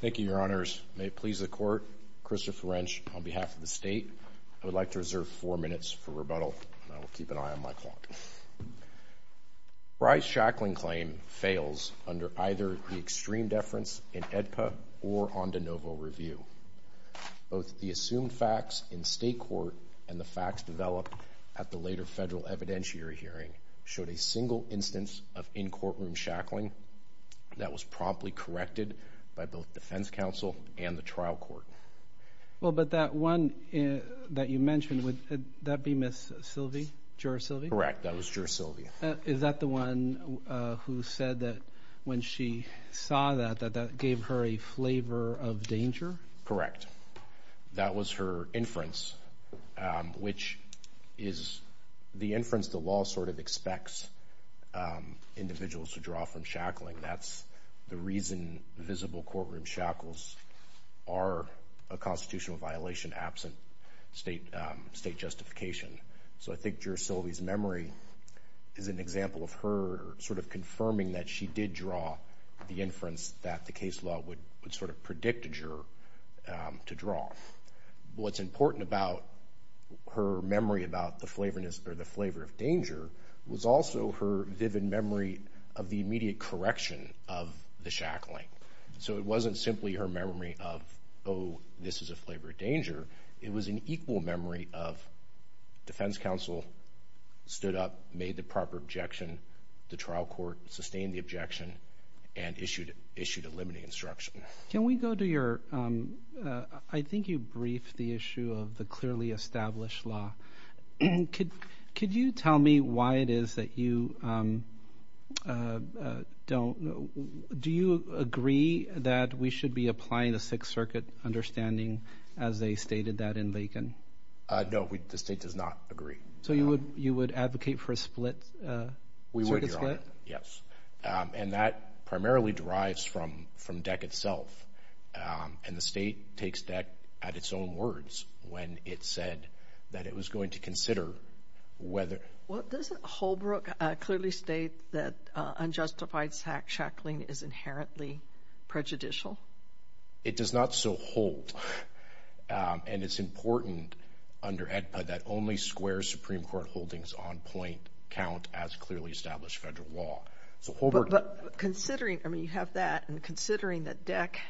Thank you, Your Honors. May it please the Court, Christopher Wrench, on behalf of the State, I would like to reserve four minutes for rebuttal, and I will keep an eye on my clock. Frye's shackling claim fails under either the extreme deference in AEDPA or on de novo review. Both the assumed facts in State court and the facts developed at the later federal evidentiary hearing showed a single instance of in-courtroom shackling that was promptly corrected by both the defense counsel and the trial court. Ritchie Well, but that one that you mentioned, would that be Ms. Sylvie? Juror Sylvie? Wrench Correct. That was Juror Sylvie. Ritchie Is that the one who said that when she saw that, that that gave her a flavor of danger? Wrench Correct. That was her inference, which is the inference the law sort of expects individuals to draw from shackling. That's the reason visible courtroom shackles are a constitutional violation absent State justification. So I think Juror Sylvie's memory is an example of her sort of confirming that she did draw the inference that the case law would sort of predict a juror to draw. What's important about her memory about the flavorness or the flavor of danger was also her vivid memory of the immediate correction of the shackling. So it wasn't simply her memory of, oh, this is a flavor of danger. It was an equal memory of defense counsel stood up, made the proper objection, the trial court sustained the objection and issued a limiting instruction. Can we go to your, I think you briefed the issue of the clearly established law. Could you tell me why it is that you don't, do you agree that we should be applying the Sixth Circuit understanding as they stated that in Bacon? No, the State does not agree. So you would, you would advocate for a split? We would. Yes. And that primarily derives from, from deck itself. And the State takes deck at its own words when it said that it was going to consider whether. What does Holbrook clearly state that unjustified sack shackling is inherently prejudicial? It does not so hold. And it's important under that only square Supreme Court holdings on point count as clearly established federal law. But considering, I mean, you have that and considering that deck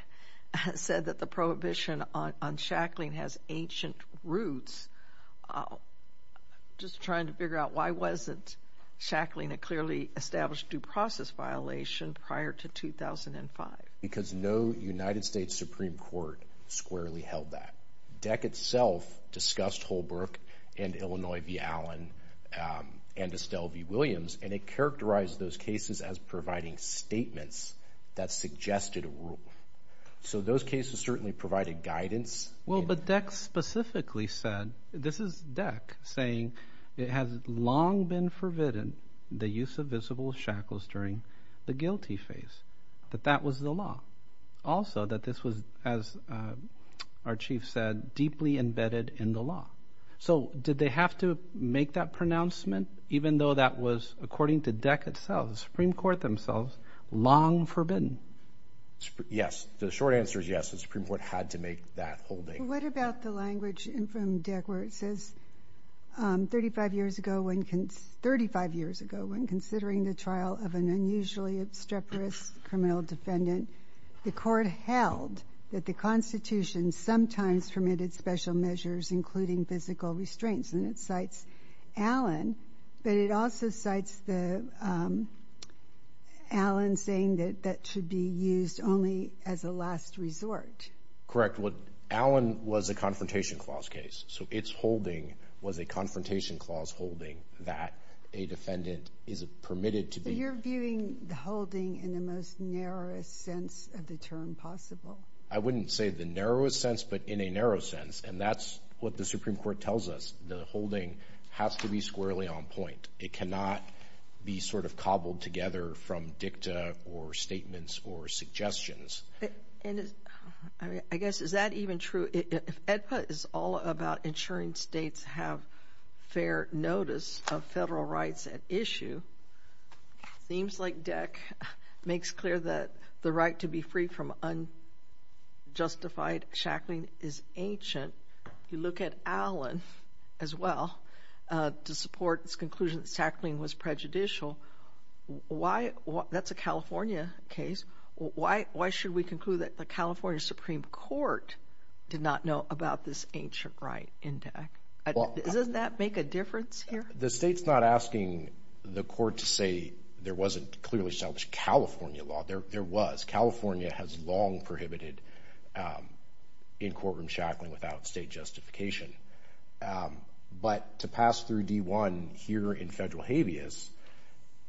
said that the prohibition on shackling has ancient roots, just trying to figure out why wasn't shackling a clearly established due process violation prior to 2005? Because no United States Supreme Court squarely held that. Deck itself discussed Holbrook and Illinois v. Allen and Estelle v. Williams. And it characterized those cases as providing statements that suggested a rule. So those cases certainly provided guidance. Well, but deck specifically said, this is deck saying it has long been forbidden the use of visible shackles during the guilty phase, that that was the law. Also that this was, as our chief said, deeply embedded in the law. So did they have to make that pronouncement? Even though that was, according to deck itself, the Supreme Court themselves, long forbidden? Yes. The short answer is yes. The Supreme Court had to make that holding. What about the language in from deck where it says, 35 years ago, when considering the that the Constitution sometimes permitted special measures, including physical restraints. And it cites Allen, but it also cites the Allen saying that that should be used only as a last resort. Correct. What Allen was a confrontation clause case. So it's holding was a confrontation clause holding that a defendant is permitted to be. You're viewing the holding in the most narrowest sense of the term possible. I wouldn't say the narrowest sense, but in a narrow sense. And that's what the Supreme Court tells us. The holding has to be squarely on point. It cannot be sort of cobbled together from dicta or statements or suggestions. I guess, is that even true? If AEDPA is all about ensuring states have fair notice of themes like deck, makes clear that the right to be free from unjustified shackling is ancient. You look at Allen as well to support its conclusion that shackling was prejudicial. Why? That's a California case. Why? Why should we conclude that the California Supreme Court did not know about this ancient right in deck? Doesn't that make a difference here? The state's not asking the court to say there wasn't clearly established California law. There was. California has long prohibited in courtroom shackling without state justification. But to pass through D1 here in federal habeas,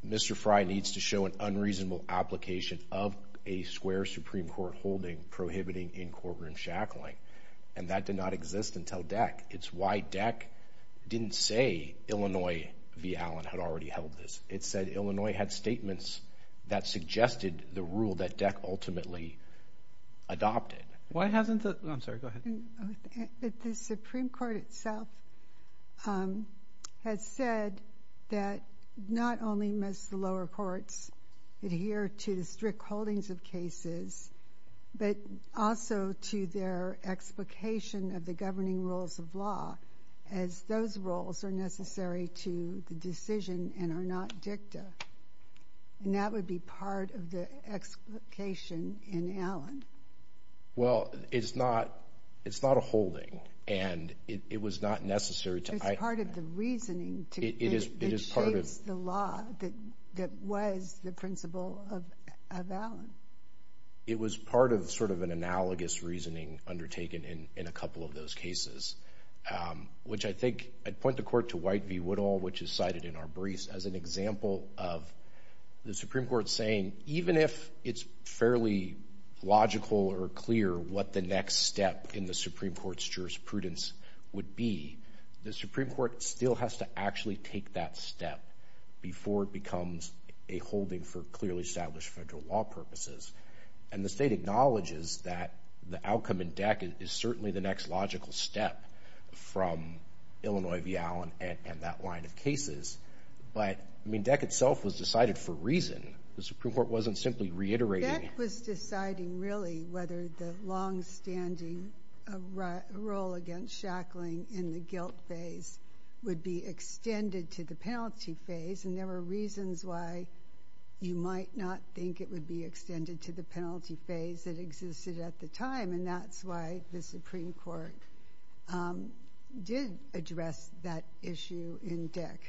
Mr. Fry needs to show an unreasonable application of a square Supreme Court holding prohibiting in courtroom shackling. And that did not exist until deck. It's why deck didn't say Illinois v. Allen had already held this. It said Illinois had statements that suggested the rule that deck ultimately adopted. Why hasn't the, I'm sorry, go ahead. The Supreme Court itself has said that not only must the lower courts adhere to the strict holdings of cases, but also to their explication of the governing rules of law, as those roles are necessary to the decision and are not dicta. And that would be part of the explication in Allen. Well, it's not, it's not a holding, and it was not necessary to- It's part of the reasoning to- It is part of- Allen. It was part of sort of an analogous reasoning undertaken in a couple of those cases, which I think I'd point the court to White v. Woodall, which is cited in our briefs as an example of the Supreme Court saying, even if it's fairly logical or clear what the next step in the Supreme Court's jurisprudence would be, the Supreme Court still has to actually take that step before it becomes a holding for clearly established federal law purposes. And the state acknowledges that the outcome in deck is certainly the next logical step from Illinois v. Allen and that line of cases. But, I mean, deck itself was decided for reason. The Supreme Court wasn't simply reiterating- Deck was deciding really whether the longstanding role against Shackling in the guilt phase would be extended to the penalty phase, and there were reasons why you might not think it would be extended to the penalty phase that existed at the time, and that's why the Supreme Court did address that issue in deck.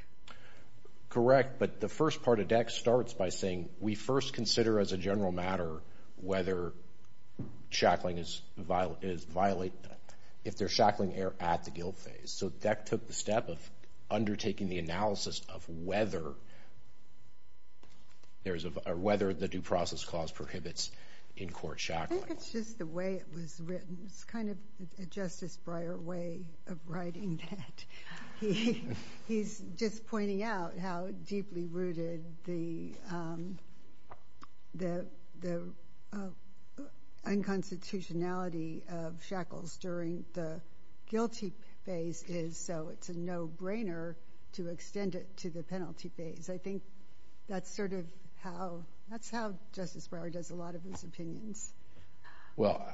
Correct, but the first part of deck starts by saying, we first consider as a general matter whether Shackling is violating, if there's Shackling error at the guilt phase. So deck took the step of undertaking the analysis of whether the due process clause prohibits in court Shackling. I think it's just the way it was written. It's kind of a Justice Breyer way of writing that. He's just pointing out how deeply rooted the unconstitutionality of Shackles during the guilty phase is, so it's a no-brainer to extend it to the penalty phase. I think that's sort of how, that's how Justice Breyer does a lot of his opinions. Well,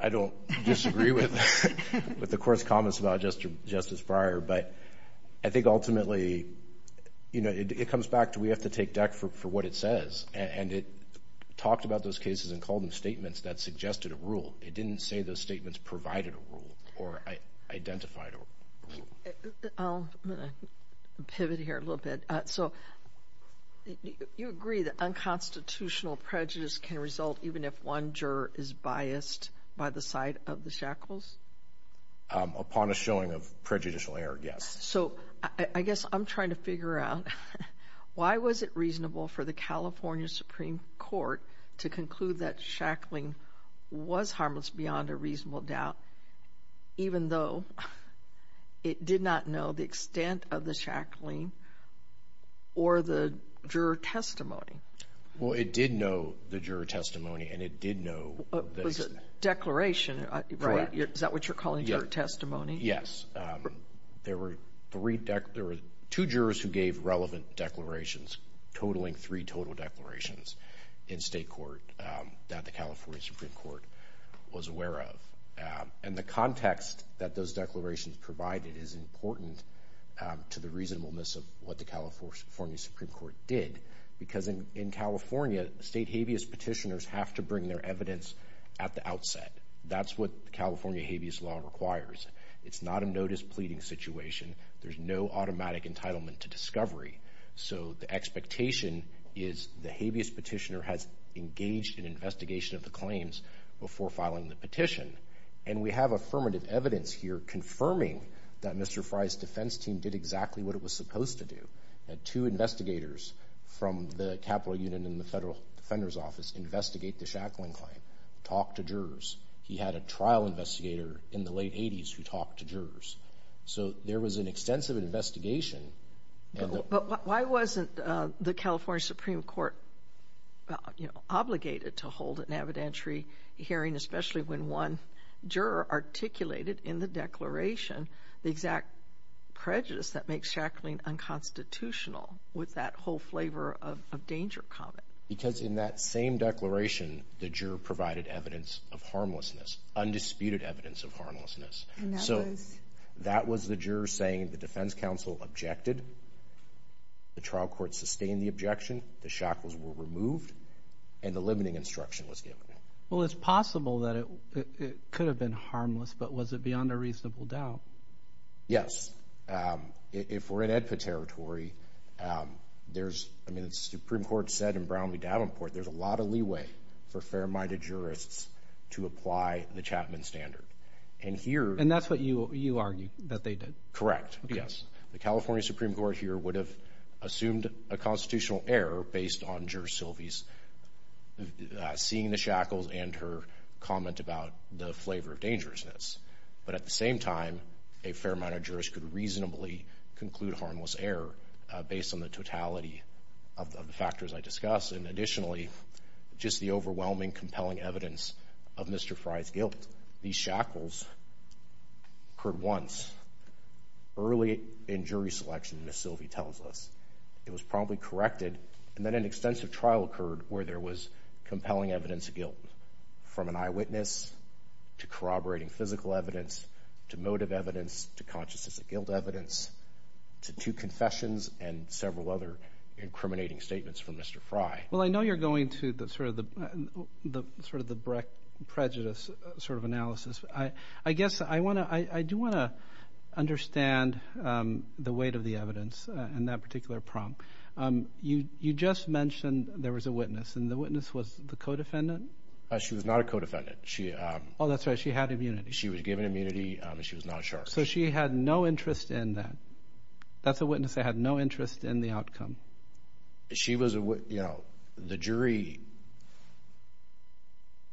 I don't disagree with the court's comments about Justice Breyer, but I think ultimately, you know, it comes back to we have to take deck for what it says, and it talked about those cases and called them statements that suggested a rule. It didn't say those statements provided a rule or identified a rule. I'll pivot here a little bit. So you agree that unconstitutional prejudice can result even if one juror is biased by the side of the Shackles? Upon a showing of prejudicial error, yes. So I guess I'm trying to figure out why was it reasonable for the California Supreme Court to conclude that Shackling was harmless beyond a reasonable doubt, even though it did not know the extent of the Shackling or the juror testimony? Well, it did know the juror testimony, and it did know the... Was it declaration, right? Correct. Is that what you're calling juror testimony? Yes. There were three, there were two jurors who gave relevant declarations, totaling three total declarations in state court that the California Supreme Court was aware of. And the context that those declarations provided is important to the reasonableness of what the California Supreme Court did. Because in California, state habeas petitioners have to bring their evidence at the outset. That's what California habeas law requires. It's not a notice pleading situation. There's no automatic entitlement to discovery. So the habeas petitioner has engaged in investigation of the claims before filing the petition. And we have affirmative evidence here confirming that Mr. Frye's defense team did exactly what it was supposed to do. Had two investigators from the Capitol Union and the Federal Defender's Office investigate the Shackling claim, talk to jurors. He had a trial investigator in the late 80s who talked to jurors. So there was an extensive investigation. But why wasn't the California Supreme Court, you know, obligated to hold an evidentiary hearing, especially when one juror articulated in the declaration the exact prejudice that makes Shackling unconstitutional with that whole flavor of danger comment? Because in that same declaration, the juror provided evidence of harmlessness, undisputed evidence of harmlessness. So that was the juror saying the defense counsel objected. The trial court sustained the objection. The Shackles were removed and the limiting instruction was given. Well, it's possible that it could have been harmless, but was it beyond a reasonable doubt? Yes. If we're in AEDPA territory, there's, I mean, the Supreme Court said in Brown v. And that's what you argue, that they did? Correct. Yes. The California Supreme Court here would have assumed a constitutional error based on Juror Silvey's seeing the Shackles and her comment about the flavor of dangerousness. But at the same time, a fair amount of jurors could reasonably conclude harmless error based on the totality of the factors I discuss. And additionally, just the overwhelming, compelling evidence of Mr. Fry's guilt. These Shackles occurred once, early in jury selection, Ms. Silvey tells us. It was probably corrected and then an extensive trial occurred where there was compelling evidence of guilt from an eyewitness to corroborating physical evidence, to motive evidence, to consciousness of guilt evidence, to two confessions, and several other incriminating statements from Mr. Fry. Well, I know you're going to the sort of the Brecht prejudice sort of analysis. I guess I want to, I do want to understand the weight of the evidence in that particular prompt. You just mentioned there was a witness, and the witness was the co-defendant? She was not a co-defendant. Oh, that's right, she had immunity. She was given immunity and she was not charged. So she had no interest in that. That's a witness that had no interest in the outcome. She was a, you know, the jury,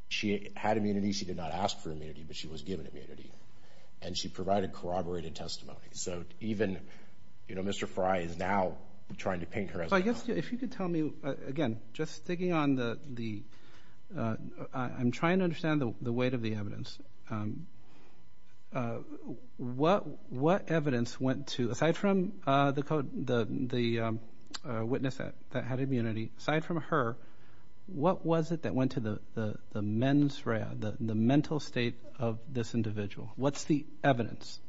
she had immunity, she did not ask for immunity, but she was given immunity. And she provided corroborated testimony. So even, you know, Mr. Fry is now trying to paint her as guilty. I guess if you could tell me, again, just trying to understand the weight of the evidence. What, what evidence went to, aside from the co- the witness that had immunity, aside from her, what was it that went to the mens rea, the mental state of this individual? What's the evidence?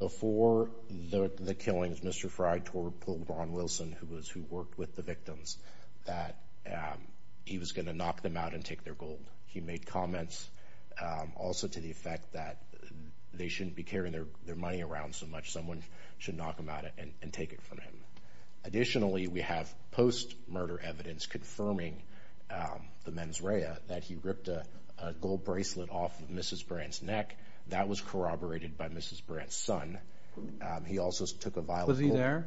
Before the killings, Mr. Fry told Ron Wilson, who was, who worked with the victims, that he was going to knock them out and take their gold. He made comments also to the effect that they shouldn't be carrying their, their money around so much. Someone should knock them out and, and take it from him. Additionally, we have post-murder evidence confirming the mens rea that he ripped a gold bracelet off of Mrs. Brandt's neck. That was corroborated by Mrs. Brandt's son. He also took a vial of gold. Was he there?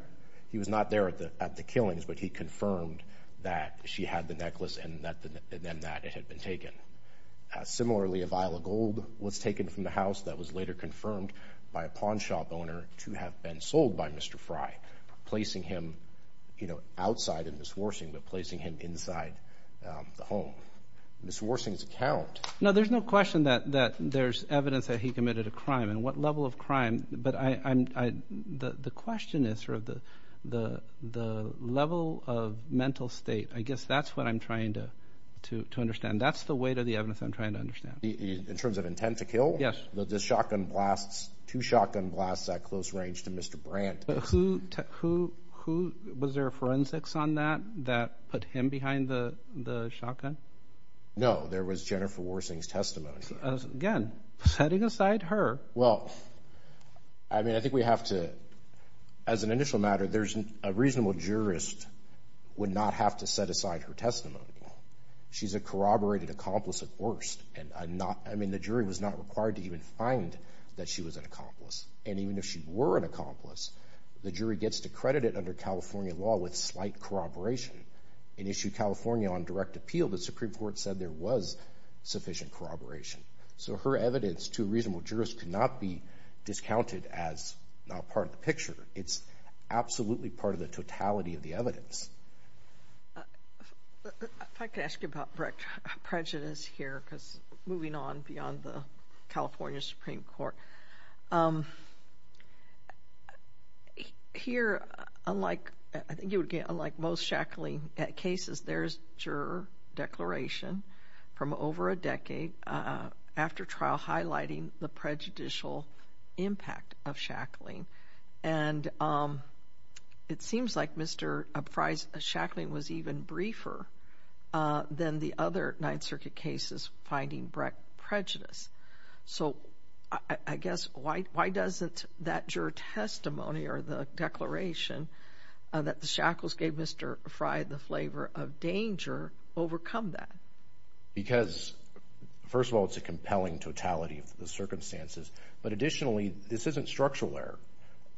He was not there at the, at the killings, but he confirmed that she had the necklace and that, and that it had been taken. Similarly, a vial of gold was taken from the house that was later confirmed by a pawn shop owner to have been sold by Mr. Fry, placing him, you know, outside of Ms. Worsing, but placing him inside the home. Ms. Worsing's account- No, there's no question that, that there's evidence that he committed a crime and what level of crime, but I, I, I, the, the question is sort of the, the, the level of mental state. I guess that's what I'm trying to, to, to understand. That's the weight of the evidence I'm trying to understand. In terms of intent to kill? Yes. The, the shotgun blasts, two shotgun blasts at close range to Mr. Brandt. But who, who, who, was there a forensics on that, that put him behind the, the shotgun? No, there was Jennifer Worsing's testimony. Again, setting aside her. Well, I mean, I think we have to, as an initial matter, there's a reasonable jurist would not have to set aside her testimony. She's a corroborated accomplice at worst. And I'm not, I mean, the jury was not required to even find that she was an accomplice. And even if she were an accomplice, the jury gets to credit it under California law with slight corroboration and issue California on direct appeal. The Supreme Court said there was sufficient corroboration. So her evidence to a reasonable jurist could not be discounted as not part of the picture. It's absolutely part of the totality of the evidence. If I could ask you about prejudice here, because moving on beyond the California Supreme Court. Here, unlike, I think it would be the first juror declaration from over a decade after trial highlighting the prejudicial impact of shackling. And it seems like Mr. Frye's shackling was even briefer than the other Ninth Circuit cases finding prejudice. So I guess why, why doesn't that juror testimony or the declaration that the shackles gave Mr. Frye the flavor of danger overcome that? Because first of all, it's a compelling totality of the circumstances. But additionally, this isn't structural error.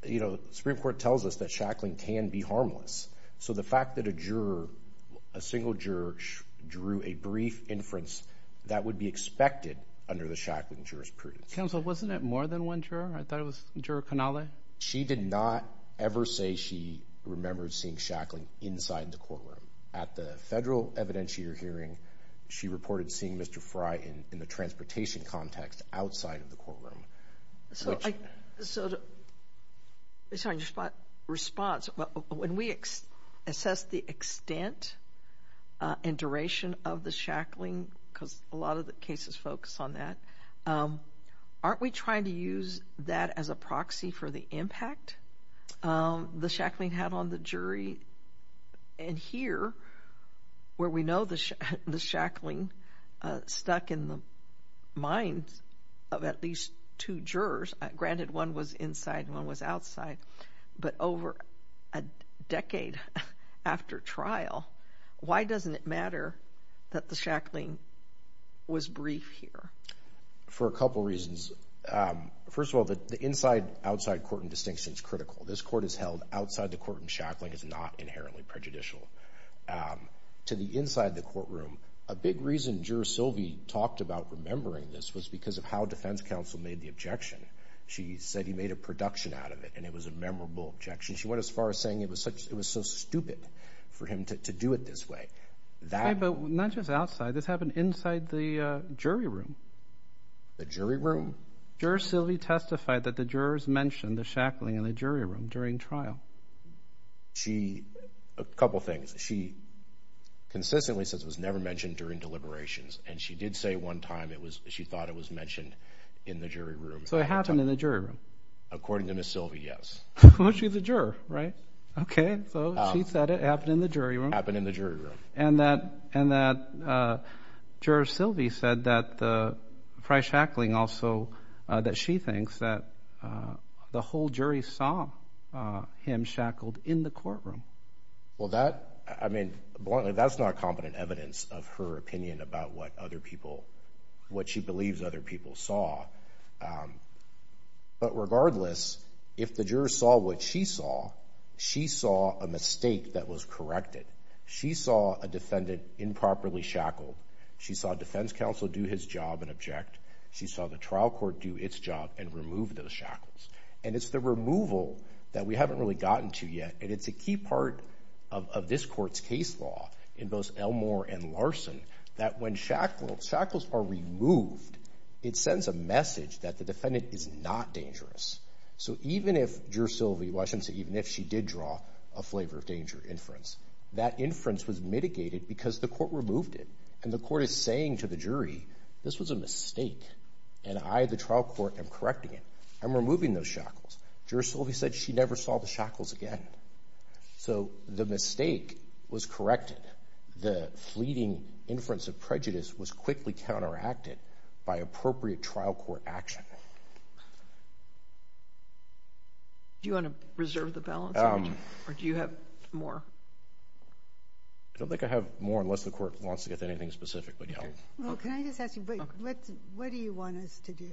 You know, Supreme Court tells us that shackling can be harmless. So the fact that a juror, a single juror drew a brief inference, that would be expected under the shackling jurors period. Counsel, wasn't it more than one juror? I thought it was Juror Canale. She did not ever say she remembered seeing shackling inside the courtroom. At the federal evidentiary hearing, she reported seeing Mr. Frye in the transportation context outside of the courtroom. So, so, sorry, your response. When we assess the extent and duration of the shackling, because a lot of the cases focus on that, aren't we trying to use that as a proxy for the impact the shackling had on the jury? And here, where we know the shackling stuck in the minds of at least two jurors, granted one was inside, one was outside, but over a decade after trial, why doesn't it matter that the shackling was brief here? For a couple reasons. First of all, the inside, outside court and distinction is critical. This court is held outside the court and shackling is not inherently prejudicial. To the inside the courtroom, a big reason Juror Silvey talked about remembering this was because of how defense counsel made the objection. She said he made a production out of it and it was a memorable objection. She went as far as saying it was such, it was so stupid for him to do it this way. But not just outside, this happened inside the jury room. The jury room? Juror Silvey testified that the jurors mentioned the shackling in the jury room during trial. She, a couple things. She consistently says it was never mentioned during deliberations and she did say one time it was, she thought it was mentioned in the jury room. So it happened in the jury room? According to Ms. Silvey, yes. Well, she's a juror, right? Okay, so she said it happened in the jury room. It happened in the jury room. And that, and that Juror Silvey said that the, prior shackling also, that she thinks that the whole jury saw him shackled in the courtroom. Well that, I mean, bluntly that's not competent evidence of her opinion about what other people, what she believes other people saw. But regardless, if the juror saw what she saw, she saw a mistake that was corrected. She saw a defendant improperly shackled. She saw defense counsel do his job and object. She saw the trial court do its job and remove those shackles. And it's the removal that we haven't really gotten to yet, and it's a key part of this court's case law in both Elmore and Larson, that when shackles are removed, it sends a message that the defendant is not dangerous. So even if Juror Silvey, well I shouldn't say even if, she did draw a flavor of danger inference, that inference was mitigated because the court removed it. And the court is saying to the jury, this was a mistake and I, the trial court, am correcting it. I'm removing those shackles. Juror Silvey said she never saw the shackles again. So the mistake was corrected. The fleeting inference of prejudice was quickly counteracted by appropriate trial court action. Do you want to reserve the balance or do you have more? I don't think I have more unless the court wants to get to anything specific, but yeah. Well can I just ask you, what do you want us to do?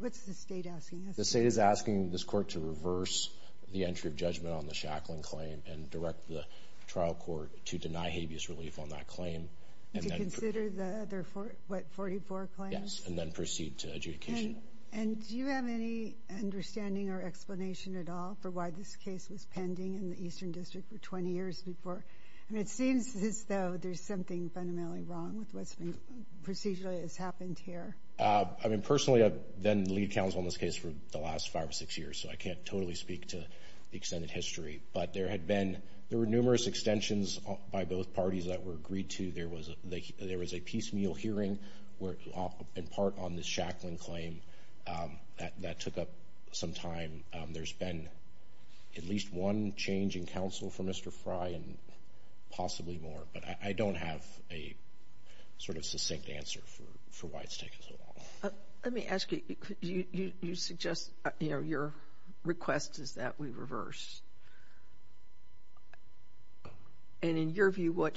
What's the state asking us? The state is asking this court to reverse the entry of judgment on the shackling claim and direct the trial court to deny habeas relief on that claim. To consider the other, what, 44 claims? Yes, and then proceed to adjudication. And do you have any understanding or explanation at all for why this case was pending in the Eastern District for 20 years before? It seems as though there's something fundamentally wrong with what's been procedurally has happened here. I mean personally I've been lead counsel on this case for the last 5 or 6 years, so I can't totally speak to the extended history, but there had been, there were numerous extensions by both parties that were agreed to. There was a piecemeal hearing where, in part, on the shackling claim, that took up some time. There's been at least one change in counsel from Mr. Fry and possibly more, but I don't have a sort of succinct answer for why it's taken so long. Let me ask you, you suggest, your request is that we reverse. And in your dealing with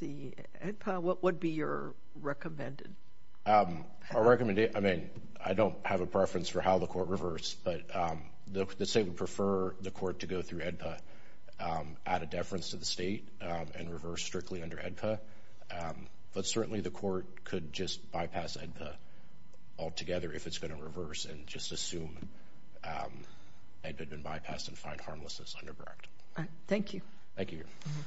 the AEDPA, what would be your recommended? I recommend, I mean, I don't have a preference for how the court reversed, but the state would prefer the court to go through AEDPA, add a deference to the state, and reverse strictly under AEDPA. But certainly the court could just bypass AEDPA altogether if it's going to reverse and just assume AEDPA had been bypassed and find harmlessness underbred. All right. Thank you. Thank you, Your Honor.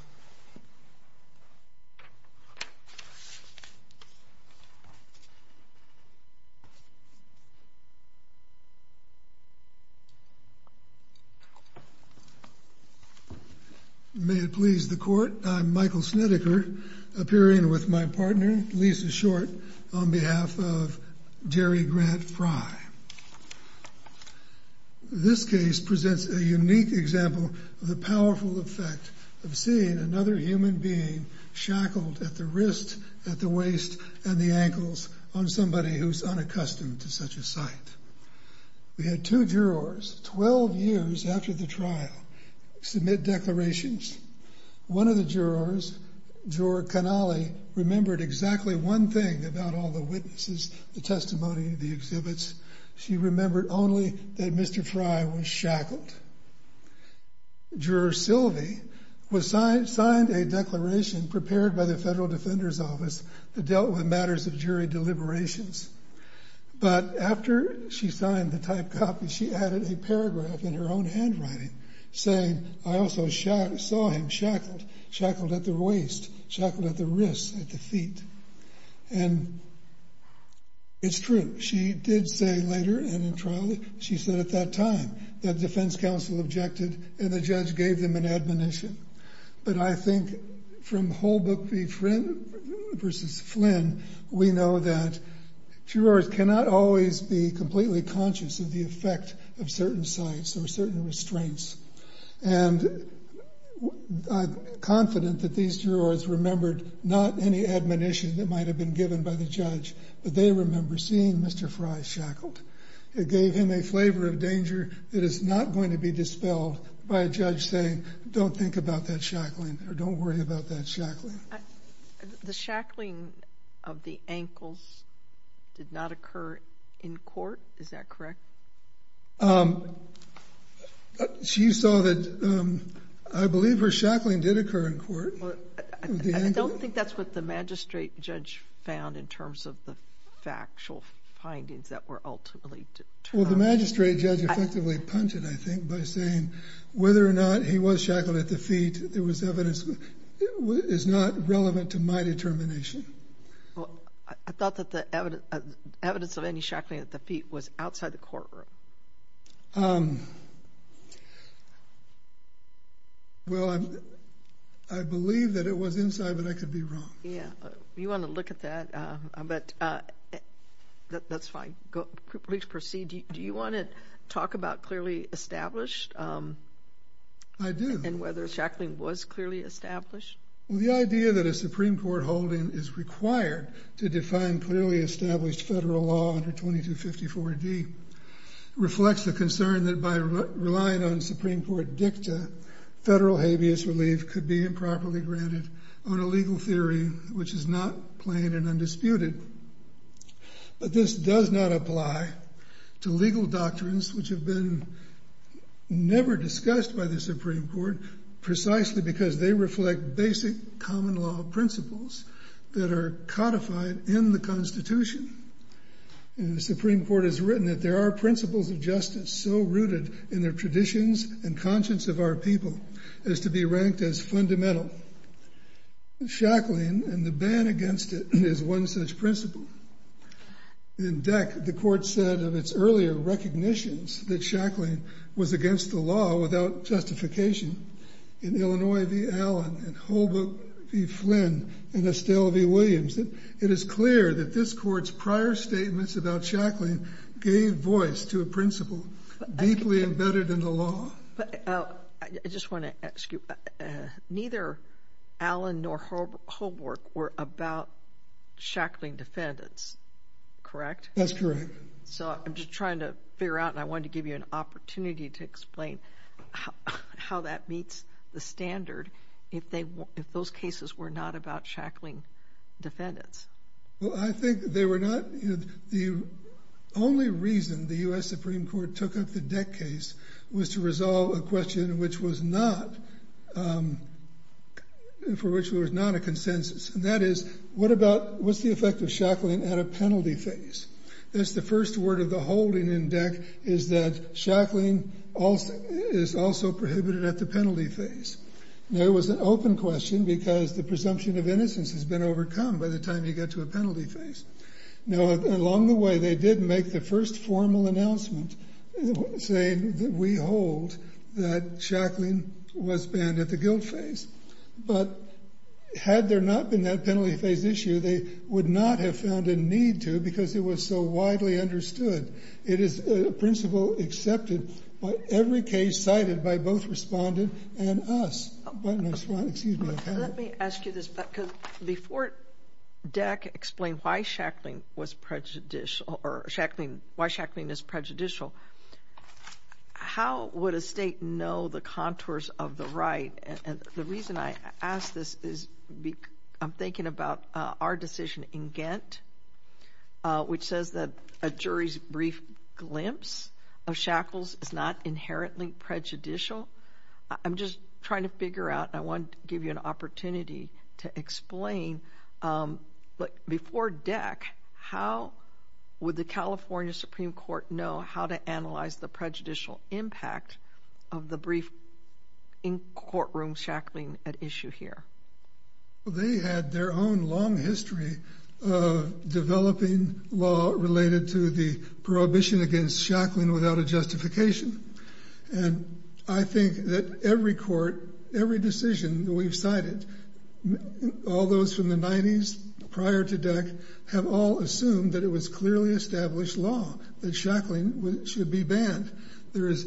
May it please the Court, I'm Michael Snedeker, appearing with my partner, Lisa Short, on this panel, which presents a unique example of the powerful effect of seeing another human being shackled at the wrist, at the waist, and the ankles on somebody who's unaccustomed to such a sight. We had two jurors, 12 years after the trial, submit declarations. One of the jurors, Juror Canale, remembered exactly one thing about all the witnesses, the testimony, the exhibits. She remembered only that Mr. Fry was shackled. Juror Silvey signed a declaration prepared by the Federal Defender's Office that dealt with matters of jury deliberations. But after she signed the typed copy, she added a paragraph in her own handwriting saying, I also saw him shackled, shackled at the waist, shackled at the wrist, at the feet. And it's true. She did say later, and in trial, she said at that time that defense counsel objected and the judge gave them an admonition. But I think from Holbrook v. Flynn, we know that jurors cannot always be completely conscious of the effect of certain sights or certain restraints. And I'm confident that these jurors remembered not any admonition that they remember seeing Mr. Fry shackled. It gave him a flavor of danger that is not going to be dispelled by a judge saying, don't think about that shackling, or don't worry about that shackling. The shackling of the ankles did not occur in court, is that correct? She saw that, I believe her shackling did occur in court. I don't think that's what the magistrate judge found in terms of the factual findings that were ultimately determined. Well, the magistrate judge effectively punched it, I think, by saying whether or not he was shackled at the feet, there was evidence, is not relevant to my determination. I thought that the evidence of any shackling at the feet was outside the courtroom. Well, I believe that it was inside, but I could be wrong. Yeah, you want to look at that, but that's fine. Please proceed. Do you want to talk about clearly established? I do. And whether shackling was clearly established? Well, the idea that a Supreme Court holding is required to define clearly established federal law under 2254D reflects the concern that by relying on Supreme Court dicta, federal habeas relief could be improperly granted on a legal theory which is not plain and undisputed. But this does not apply to legal doctrines which have been never discussed by the Supreme Court, precisely because they reflect basic common law principles that are codified in the Constitution. The Supreme Court has written that there are principles of justice so rooted in their traditions and conscience of our people as to be ranked as fundamental. Shackling and the ban against it is one such principle. In DEC, the court said of its earlier recognitions that shackling was against the law without justification in Illinois v. Allen and Holbrook v. Flynn and Estelle v. Williams. It is clear that this court's prior statements about shackling gave voice to a principle deeply embedded in the law. I just want to ask you, neither Allen nor Holbrook were about shackling defendants, correct? That's correct. So I'm just trying to figure out, and I wanted to give you an opportunity to explain how that meets the standard if those cases were not about shackling defendants. Well, I think they were not. The only reason the U.S. Supreme Court took up the DEC case was to resolve a question for which there was not a consensus, and that is, what's the effect of shackling at a penalty phase? That's the first word of the holding in DEC, is that shackling is also prohibited at the penalty phase. Now, it was an open question because the presumption of innocence has been overcome by the time you get to a penalty phase. Now, along the way, they did make the first formal announcement saying that we hold that shackling was banned at the guilt phase, but had there not been that penalty phase issue, they would not have found a need to because it was so widely understood. It is a principle accepted by every case cited by both respondent and us. Let me ask you this, because before DEC explained why shackling was prejudicial, or why shackling is prejudicial, how would a state know the contours of the right? And the reason I ask this is I'm thinking about our decision in Ghent, which says that a jury's brief glimpse of shackles is not inherently prejudicial. I'm just trying to figure out, and I want to give you an opportunity to explain, but before DEC, how would the California Supreme Court know how to analyze the prejudicial impact of the brief in-courtroom shackling at issue here? They had their own long history of developing law related to the prohibition against shackling without a justification, and I think that every court, every decision that we've cited, all those from the 90s prior to DEC, have all assumed that it was clearly established law that shackling should be banned. There is,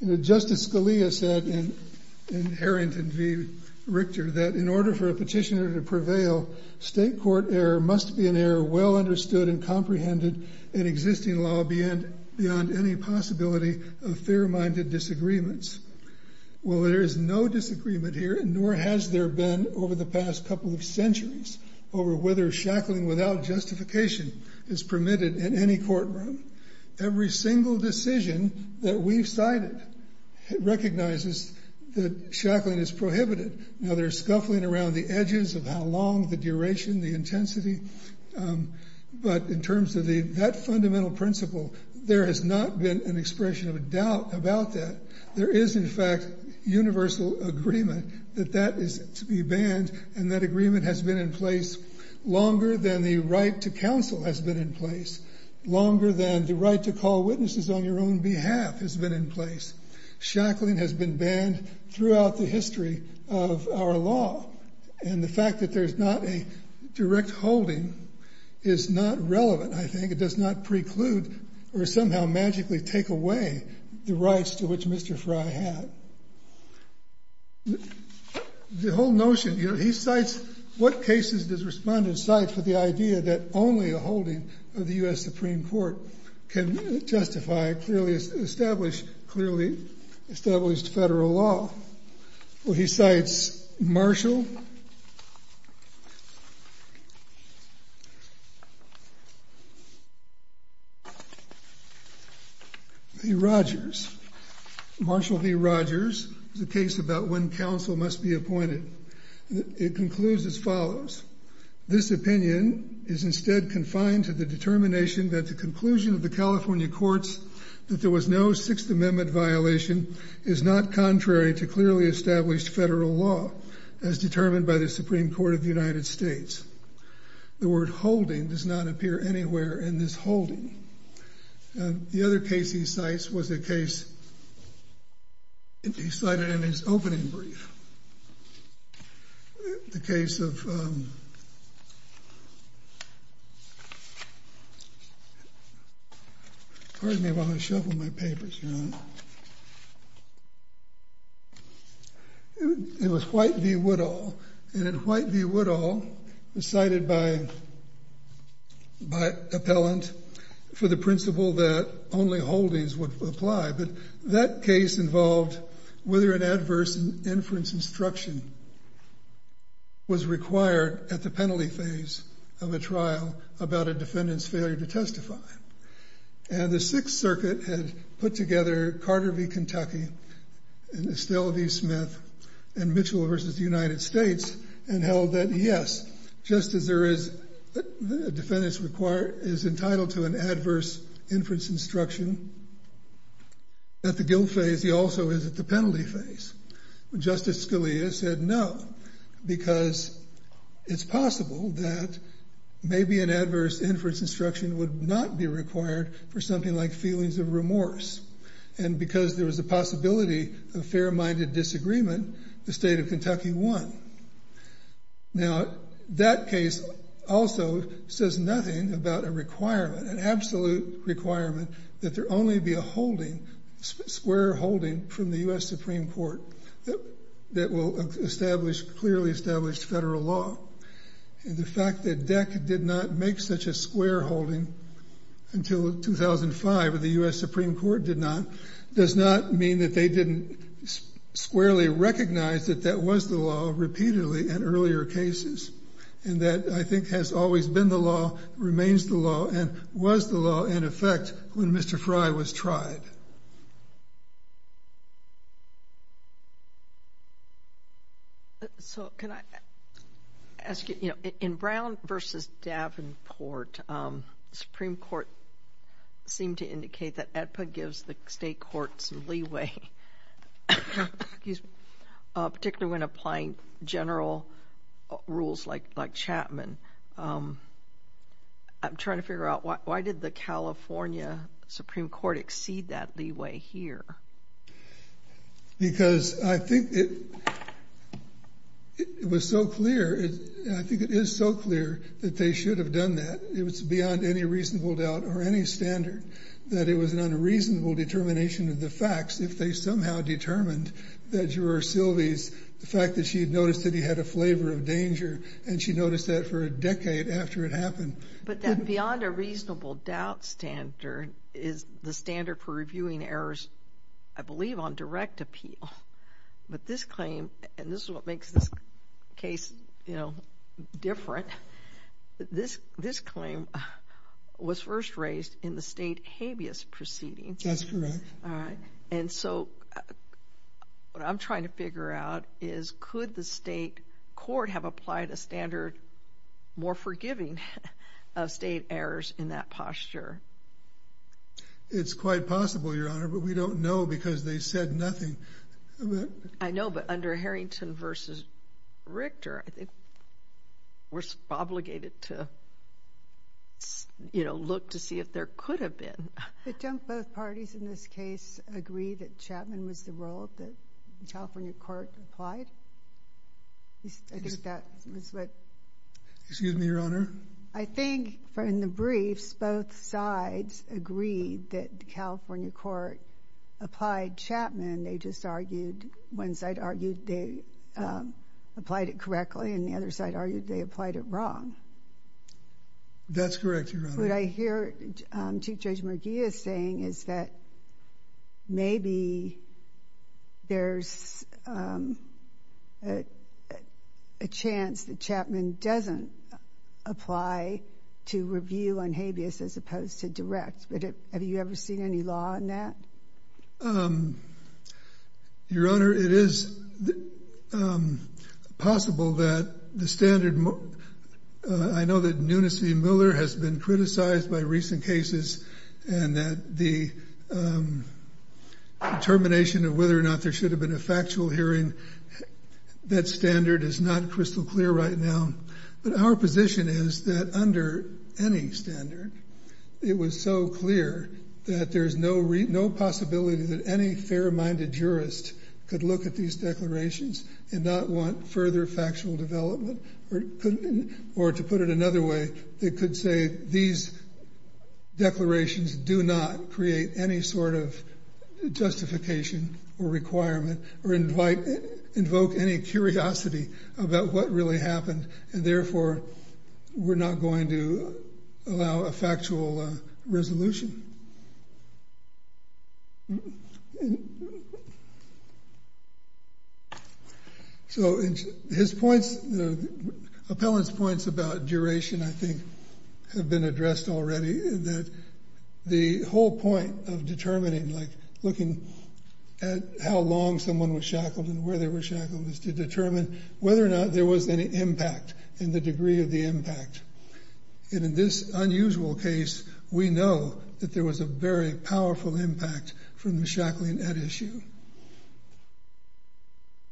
you know, Justice Scalia said in Harrington v. Richter that in order for a petitioner to prevail, state court error must be an error well understood and comprehended in existing law beyond any possibility of fair-minded disagreements. Well, there is no disagreement here, nor has there been over the past couple of centuries over whether shackling without justification is permitted in any courtroom. Every single decision that we've cited recognizes that shackling is prohibited. Now, there's scuffling around the edges of how long, the duration, the intensity, but in terms of that fundamental principle, there has not been an expression of a doubt about that. There is, in fact, universal agreement that that is to be banned, and that agreement has been in place longer than the right to call witnesses on your own behalf has been in place. Shackling has been banned throughout the history of our law, and the fact that there's not a direct holding is not relevant, I think. It does not preclude or somehow magically take away the rights to which Mr. Fry had. The whole notion, you know, he cites what cases does the respondent cite for the idea that only a holding of the U.S. Supreme Court can justify a clearly established federal law? Well, he cites Marshall v. Rogers. Marshall v. Rogers is a case about when counsel must be appointed. It concludes as follows. This opinion is instead confined to the determination that the conclusion of the California courts that there was no Sixth Amendment violation is not contrary to clearly established federal law as determined by the Supreme Court of the United States. The word holding does not appear anywhere in this holding. The other case he cites was a case he cited in his opening brief. The case of, pardon me while I shuffle my papers, John. It was White v. Woodall, and White v. Helland for the principle that only holdings would apply, but that case involved whether an adverse inference instruction was required at the penalty phase of a trial about a defendant's failure to testify. And the Sixth Circuit had put together Carter v. Kentucky and Estelle v. Smith and Mitchell v. United States and held that, yes, just as there is a defendant's entitled to an adverse inference instruction at the guilt phase, he also is at the penalty phase. Justice Scalia said no, because it's possible that maybe an adverse inference instruction would not be required for something like feelings of remorse. And because there was a possibility of fair-minded disagreement, the state of Kentucky won. Now, that case also says nothing about a requirement, an absolute requirement, that there only be a holding, square holding from the U.S. Supreme Court that will establish clearly established federal law. And the fact that DEC did not make such a square holding until 2005, or the U.S. Supreme Court did not, does not mean that they didn't squarely recognize that that was the law repeatedly in earlier cases. And that, I think, has always been the law, remains the law, and was the law, in effect, when Mr. Fry was tried. So can I ask you, you know, in Brown v. Davenport, the Supreme Court seemed to indicate that federal rules like Chapman, I'm trying to figure out why did the California Supreme Court exceed that leeway here? Because I think it was so clear, I think it is so clear that they should have done that. It was beyond any reasonable doubt or any standard that it was an unreasonable determination of the facts if they somehow determined that Juror Silvey's, the fact that she had noticed that he had a flavor of danger, and she noticed that for a decade after it happened. But that beyond a reasonable doubt standard is the standard for reviewing errors, I believe, on direct appeal. But this claim, and this is what makes this case, you know, different, this claim was first raised in the state habeas proceeding. That's correct. And so what I'm trying to figure out is could the state court have applied a standard more forgiving of state errors in that posture? It's quite possible, Your Honor, but we don't know because they said nothing. I know, but under Harrington v. Richter, I think we're obligated to, you know, look to see if there could have been. But don't both parties in this case agree that Chapman was the role that the California court applied? Excuse me, Your Honor? I think in the briefs, both sides agreed that the California court applied Chapman. They just argued, one side argued they applied it correctly, and the other side argued they applied it wrong. That's correct, Your Honor. What I hear Chief Judge Murguia saying is that maybe there's a chance that Chapman doesn't apply to review on habeas as opposed to direct. Have you ever seen any law on that? Your Honor, it is possible that the standard, I know that Nunes v. Miller has been criticized by recent cases and that the termination of whether or not there should have been a factual hearing, that standard is not crystal clear right now. But our position is that under any standard, it was so clear that there's no possibility that any fair-minded jurist could look at these declarations and not want further factual development. Or to put it another way, they could say these declarations do not create any sort of justification or requirement or invoke any curiosity about what really happened, and therefore we're not going to allow a factual resolution. So, his points, the appellant's points about duration, I think, have been addressed already, that the whole point of determining, like looking at how long someone was shackled and where they were shackled is to determine whether or not there was any impact and the degree of the impact. And in this unusual case, we know that there was a very powerful impact from the shackling at issue.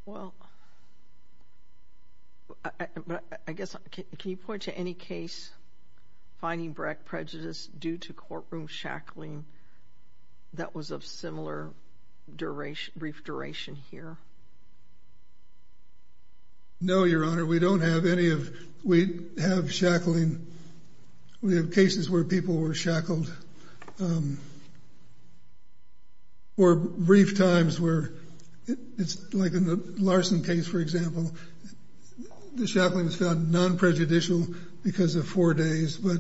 Well, I guess, can you point to any case, finding direct prejudice due to courtroom shackling that was of similar brief duration here? No, Your Honor, we don't have any of, we have shackling, we have cases where people were shackled for brief times where, it's like in the Larson case, for example, the shackling was found non-prejudicial because of four days. But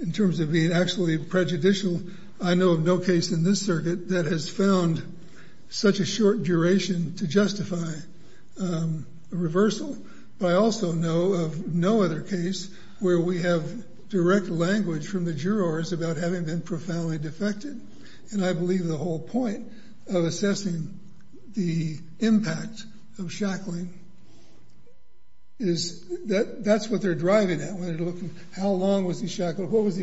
in terms of being actually prejudicial, I know of no case in this circuit that has found such a short duration to justify a reversal. But I also know of no other case where we have direct language from the jurors about having been profoundly defected. And I believe the whole point of assessing the impact of shackling is that that's what they're driving at when they're looking at how long was the shackles, the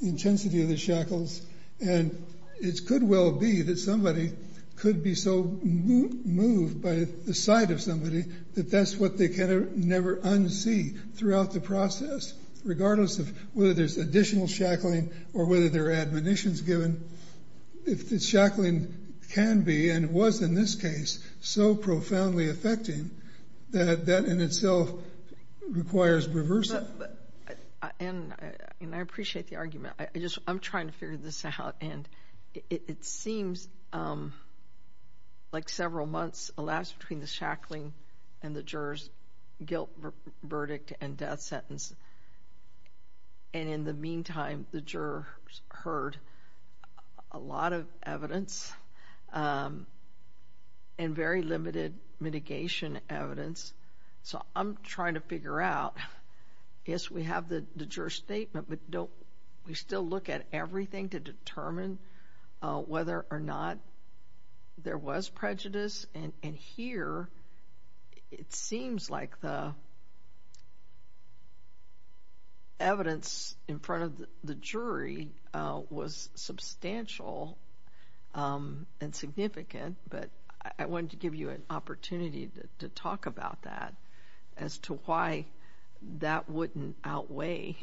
intensity of the shackles. And it could well be that somebody could be so moved by the sight of somebody that that's what they can never unsee throughout the process regardless of whether there's additional shackling or whether there are admonitions given. If the shackling can be, and it was in this case, so profoundly affecting that that in itself requires reversal. And I appreciate the argument. I'm trying to figure this out. And it seems like several months elapsed between the shackling and the jurors' guilt verdict and death sentence. And in the meantime, the jurors heard a lot of evidence and very limited mitigation evidence. So I'm trying to figure out, yes, we have the juror's statement, but don't we still look at everything to determine whether or not there was prejudice? And here, it seems like the evidence in front of the jury was substantial and significant. But I wanted to give you an opportunity to talk about that as to why that wouldn't outweigh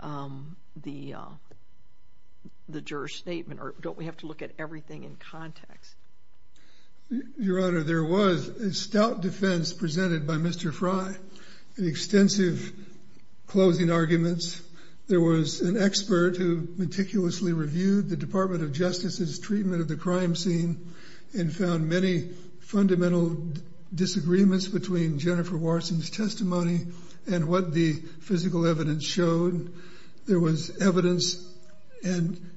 the juror's statement. Or don't we have to look at everything in context? Your Honor, there was a stout defense presented by Mr. Fry in extensive closing arguments. There was an expert who meticulously reviewed the Department of Justice's treatment of the fundamental disagreements between Jennifer Warson's testimony and what the physical evidence showed. There was evidence. And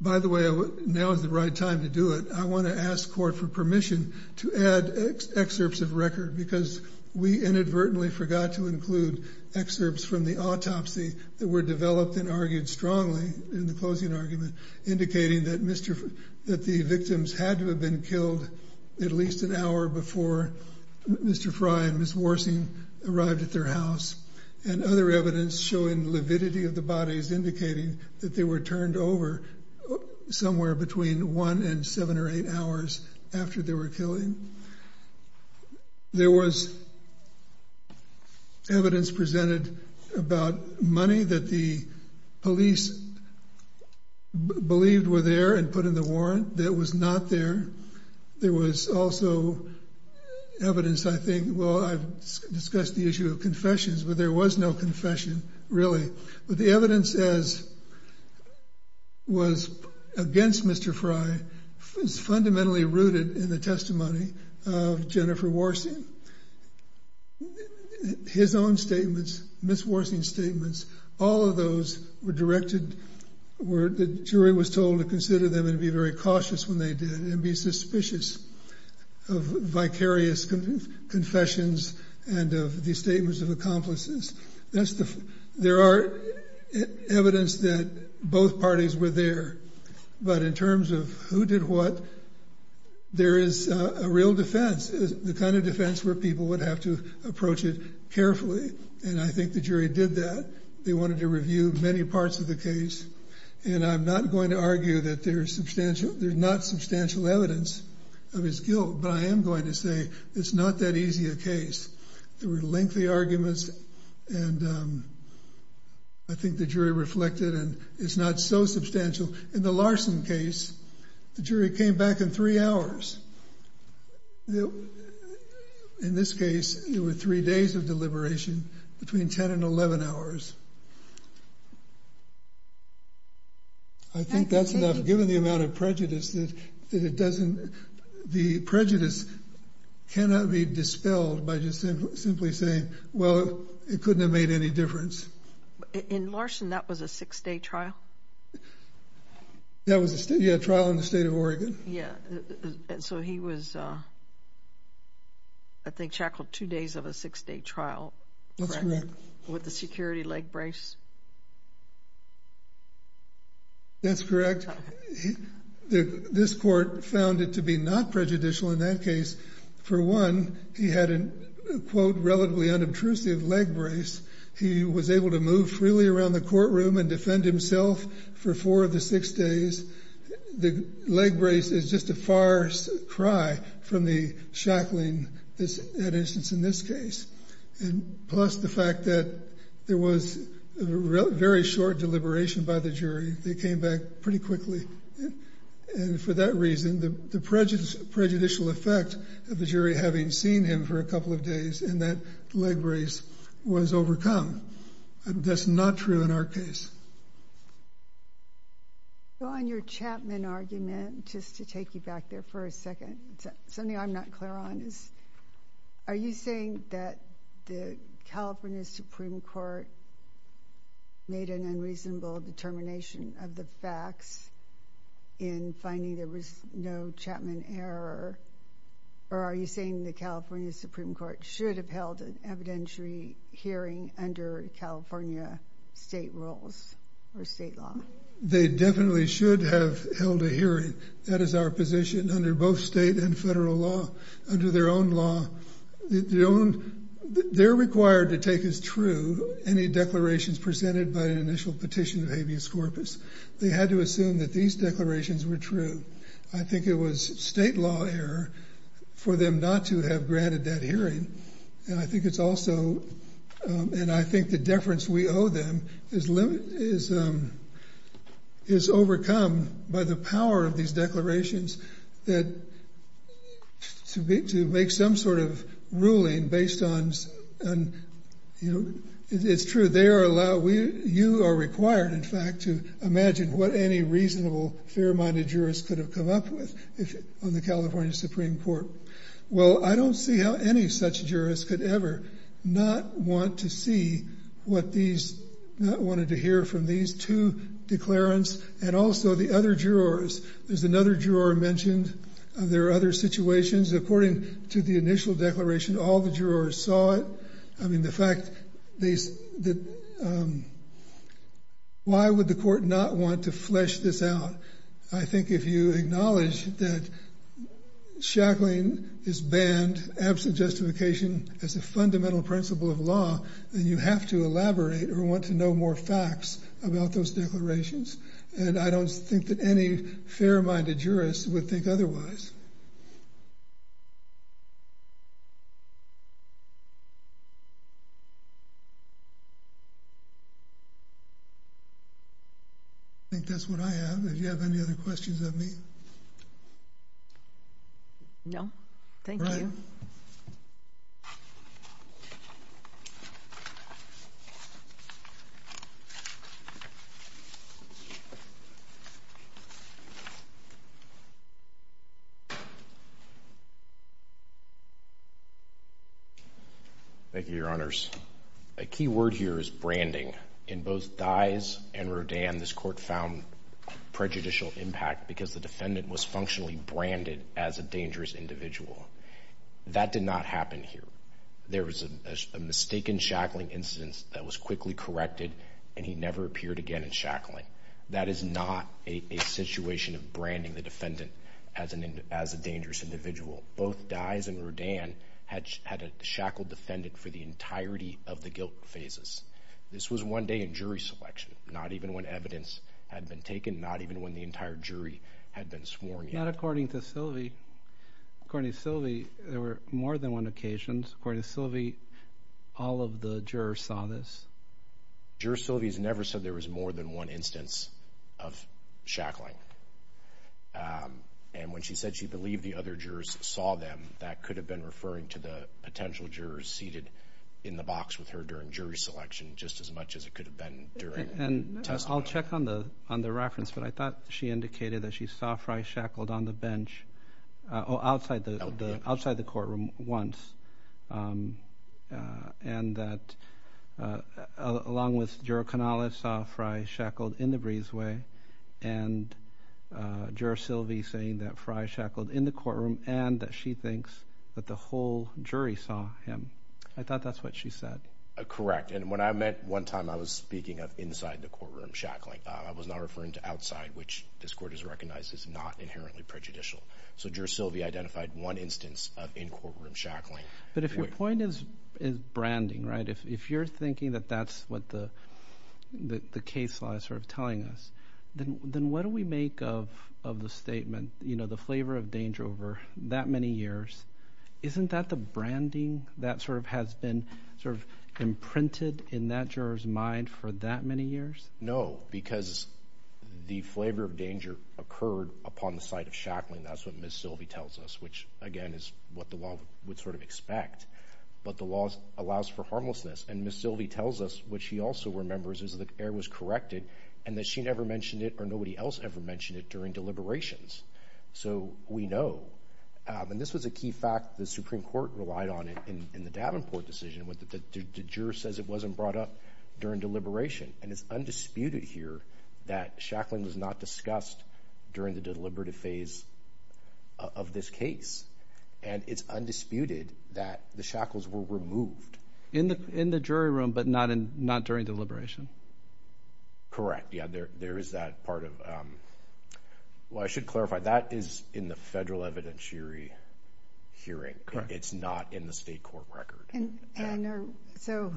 by the way, now is the right time to do it. I want to ask court for permission to add excerpts of record, because we inadvertently forgot to include excerpts from the autopsy that were developed and argued strongly in the closing argument, indicating that the victims had to have been killed at least an hour before Mr. Fry and Ms. Warson arrived at their house. And other evidence showing lividity of the bodies, indicating that they were turned over somewhere between one and seven or eight hours after they were killed. There was evidence presented about money that the police believed were there and put in the warrant that was not there. There was also evidence, I think, well, I've discussed the issue of confessions, but there was no confession really. But the evidence as was against Mr. Fry was fundamentally rooted in the testimony of Jennifer Warson. His own statements, Ms. Warson's statements, were all of those were directed where the jury was told to consider them and be very cautious when they did and be suspicious of vicarious confessions and of the statements of accomplices. There are evidence that both parties were there. But in terms of who did what, there is a real defense, the kind of defense where people would have to approach it carefully. And I think the jury did that. They wanted to review many parts of the case. And I'm not going to argue that there's not substantial evidence of his guilt, but I am going to say it's not that easy a case. There were lengthy arguments, and I think the jury reflected and it's not so substantial. In the Larson case, the jury came back in three hours. In this case, there were three days of deliberation between 10 and 11 hours. I think that's enough given the amount of prejudice that it doesn't, the prejudice cannot be dispelled by just simply saying, well, it couldn't have made any difference. In Larson, that was a six-day trial? That was a trial in the state of Oregon. Yeah. And so he was, I think, shackled two days of a six-day trial with a security leg brace? That's correct. This court found it to be not prejudicial in that case. For one, he had a, quote, relatively unobtrusive leg brace. He was able to move freely around the courtroom and defend himself for four of the six days. The leg brace is just a far cry from the shackling that is in this case. And plus the fact that there was a very short deliberation by the jury. They came back pretty quickly. And for that reason, the prejudicial effect of the jury having seen him for a couple of days in that leg brace was overcome. That's not true in our case. So on your Chapman argument, just to take you back there for a second, something I'm not clear on is, are you saying that the California Supreme Court made an unreasonable determination of the facts in finding there was no Chapman error? Or are you saying the California Supreme Court should have held an evidentiary hearing under California state rules or state law? They definitely should have held a hearing. That is our position under both state and federal law, under their own law. They're required to take as true any declarations presented by an initial petition of habeas corpus. They had to assume that these declarations were true. I think it was state law error for them not to have granted that hearing. And I think it's also, and I think the deference we owe them is overcome by the power of these declarations that to make some sort of ruling based on, it's true, you are required in fact to imagine what any reasonable, fair-minded jurist could have come up with on the California Supreme Court. Well, I don't see how any such jurist could ever not want to see what these, not wanted to hear from these two declarants and also the other jurors. There's another juror mentioned there are other situations. According to the initial declaration, all the jurors saw it. I mean, the fact that, why would the court not want to flesh this out? I think if you acknowledge that Shackling is banned absent justification as a fundamental principle of law, then you have to elaborate or want to know more facts about those declarations. And I don't think that any fair-minded jurist would think otherwise. I think that's what I have. Do you have any other questions of me? No. Thank you. Thank you, Your Honors. A key word here is branding. In both Dyes and Rodin, this court found prejudicial impact because the defendant was functionally branded as a dangerous individual. That did not happen here. There was a mistaken Shackling instance that was quickly corrected and he never appeared again in Shackling. That is not a situation of branding the defendant as a dangerous individual. Both Dyes and Rodin had a shackled defendant for the entirety of the guilt phases. This was one day in jury selection, not even when evidence had been taken, not even when the entire jury had been sworn in. Not according to Sylvie. According to Sylvie, there were more than one occasion. According to Sylvie, all of the jurors saw this. Juror Sylvie has never said there was more than one instance of Shackling. And when she said she believed the other jurors saw them, that could have been referring to the potential jurors seated in the box with her during jury selection just as much as it could have been during testimony. I'll check on the reference, but I thought she indicated that she saw Fry shackled on the bench, outside the courtroom once. And that along with juror Canales saw Fry shackled in the breezeway and juror Sylvie saying that Fry shackled in the courtroom and that she thinks that the whole jury saw him. I thought that's what she said. Correct. And what I meant, one time I was speaking of inside the courtroom Shackling. I was not referring to outside, which this Court has recognized is not inherently prejudicial. So juror Sylvie identified one instance of in courtroom Shackling. But if your point is branding, right? If you're thinking that that's what the case law is sort of telling us, then what do we make of the statement, you know, the flavor of danger over that many years? Isn't that the branding that sort of has been sort of imprinted in that juror's mind for that many years? No, because the flavor of danger occurred upon the site of Shackling. That's what Ms. Sylvie tells us, which again is what the law would sort of expect. But the law allows for harmlessness. And Ms. Sylvie tells us what she also remembers is that error was corrected and that she never mentioned it or nobody else ever mentioned it during deliberations. So we know. And this was a key fact. The Supreme Court relied on it in the Davenport decision. The juror says it wasn't brought up during deliberation. And it's undisputed here that Shackling was not discussed during the deliberative phase of this case. And it's undisputed that the Shackles were removed. In the jury room, but not during deliberation? Correct. Yeah, there is that part of – well, I should clarify, that is in the federal evidentiary hearing. It's not in the state court record. And so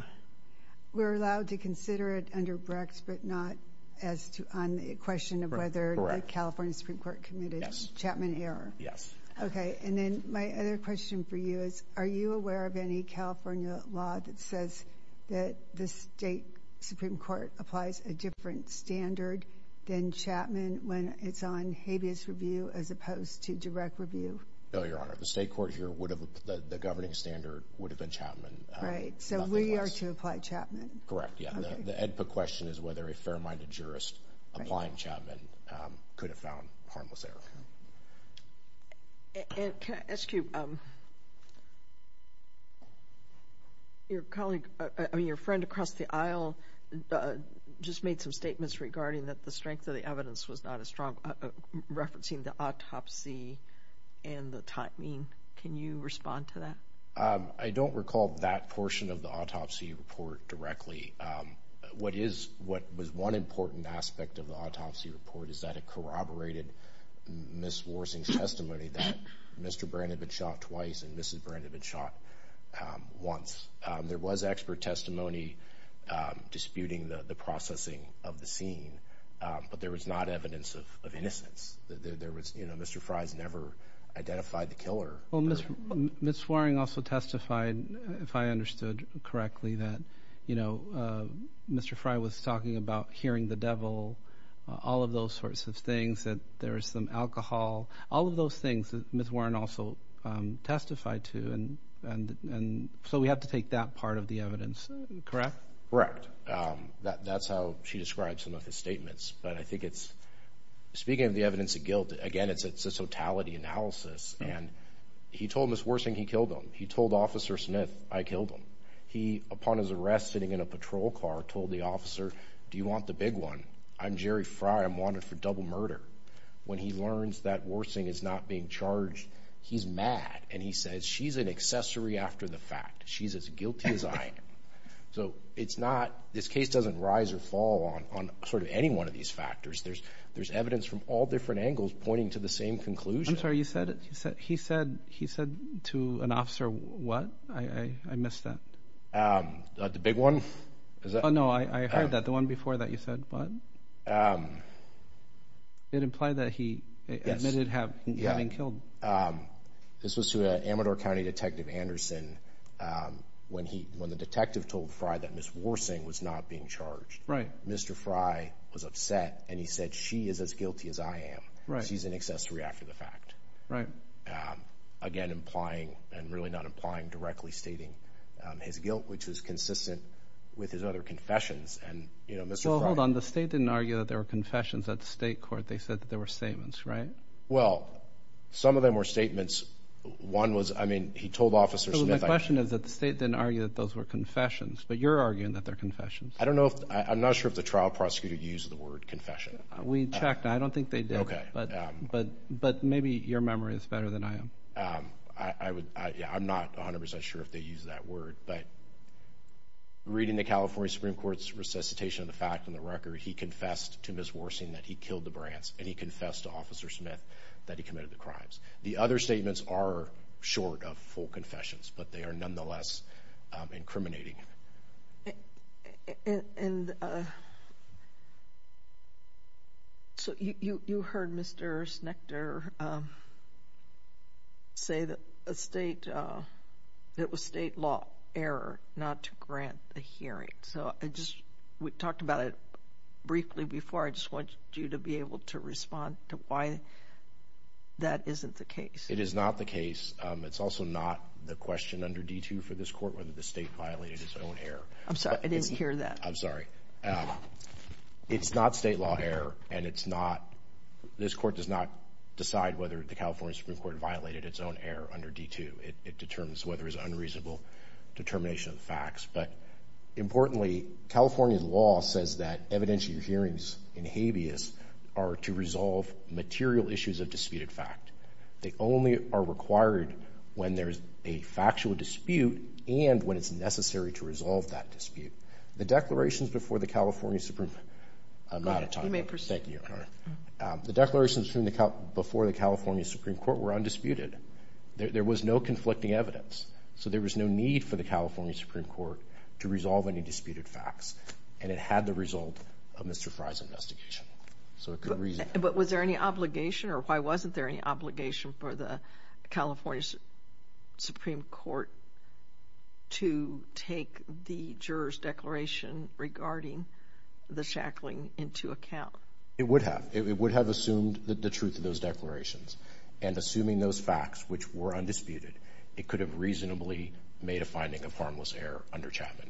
we're allowed to consider it under Brex, but not on the question of whether the California Supreme Court committed Chapman error? Yes. Okay. And then my other question for you is, are you aware of any California law that says that the state Supreme Court applies a different standard than Chapman when it's on habeas review as opposed to direct review? No, Your Honor. The state court here would have – the governing standard would have been Chapman. Right. So we are to apply Chapman. Correct. Yeah. And the question is whether a fair-minded jurist applying Chapman could have found harmless error. And can I ask you – your colleague – I mean, your friend across the aisle just made some statements regarding that the strength of the evidence was not as strong, referencing the autopsy and the timing. Can you respond to that? I don't recall that portion of the autopsy report directly. What is – what was one important aspect of the autopsy report is that it corroborated Ms. Worthing's testimony that Mr. Brand had been shot twice and Mrs. Brand had been shot once. There was expert testimony disputing the processing of the scene, but there was not evidence of innocence. There was – you know, Mr. Fries never identified the killer. Well, Ms. Worthing also testified, if I understood correctly, that, you know, Mr. Fry was talking about hearing the devil, all of those sorts of things, that there was some alcohol, all of those things that Ms. Warren also testified to. And so we have to take that part of the evidence, correct? Correct. That's how she describes some of his statements. But I think it's – speaking of the evidence of guilt, again, it's a totality analysis. And he told Ms. Worthing he killed him. He told Officer Smith, I killed him. He, upon his arrest, sitting in a patrol car, told the officer, do you want the big one? I'm Jerry Fry. I'm wanted for double murder. When he learns that Worthing is not being charged, he's mad and he says, she's an accessory after the fact. She's as guilty as I am. So it's not – this case doesn't rise or fall on sort of any one of these factors. There's evidence from all different angles pointing to the same conclusion. I'm sorry, you said – he said to an officer what? I missed that. The big one? Oh, no, I heard that. The one before that, you said what? It implied that he admitted having killed. This was to an Amador County detective, Anderson, when the detective told Fry that Ms. Worthing was not being charged. Mr. Fry was upset and he said, she is as guilty as I am. She's an accessory after the fact. Again, implying and really not implying, directly stating his guilt, which is consistent with his other confessions. Well, hold on. The state didn't argue that there were confessions at the state court. They said that there were statements, right? Well, some of them were statements. One was – I mean, he told Officer Smith – I don't know if – I'm not sure if the trial prosecutor used the word confession. We checked. I don't think they did. Okay. But maybe your memory is better than I am. I would – I'm not 100 percent sure if they used that word, but reading the California Supreme Court's resuscitation of the fact and the record, he confessed to Ms. Worthing that he killed the Brants and he confessed to Officer Smith that he committed the crimes. The other statements are short of full confessions, but they are nonetheless incriminating. And so you heard Mr. Schnechter say that a state – that it was state law – error not to grant the hearing. So I just – we talked about it briefly before. I just want you to be able to respond to why that isn't the case. It is not the case. It's also not the question under D2 for this court whether the state court violated its own error. I'm sorry. I didn't hear that. I'm sorry. It's not state law error, and it's not – this court does not decide whether the California Supreme Court violated its own error under D2. It determines whether it's unreasonable determination of facts. But importantly, California law says that evidence of your hearings in habeas are to resolve material issues of disputed fact. They only are required when there's a factual dispute and when it's necessary to resolve that dispute. The declarations before the California Supreme – I'm out of time. You may proceed. Thank you, Your Honor. The declarations from the – before the California Supreme Court were undisputed. There was no conflicting evidence. So there was no need for the California Supreme Court to resolve any disputed facts, and it had the result of Mr. Fry's investigation. So it could reason. But was there any obligation, or why wasn't there any obligation for the California Supreme Court to take the juror's declaration regarding the shackling into account? It would have. It would have assumed the truth of those declarations. And assuming those facts, which were undisputed, it could have reasonably made a finding of harmless error under Chapman.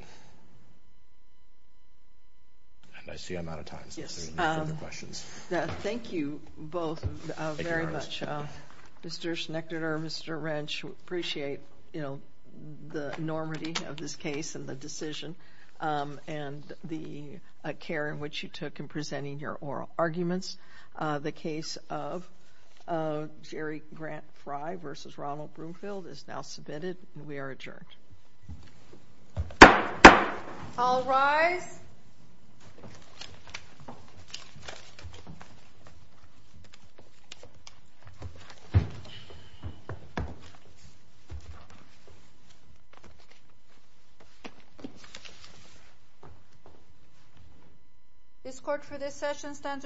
And I see I'm out of time. Yes. Any further questions? Thank you both very much. Thank you, Your Honor. Mr. Schnechter, Mr. Wrench, we appreciate, you know, the enormity of this case and the decision and the care in which you took in presenting your oral arguments. The case of Jerry Grant Fry v. Ronald Broomfield is now submitted, and we are adjourned. All rise. This court for this session stands adjourned.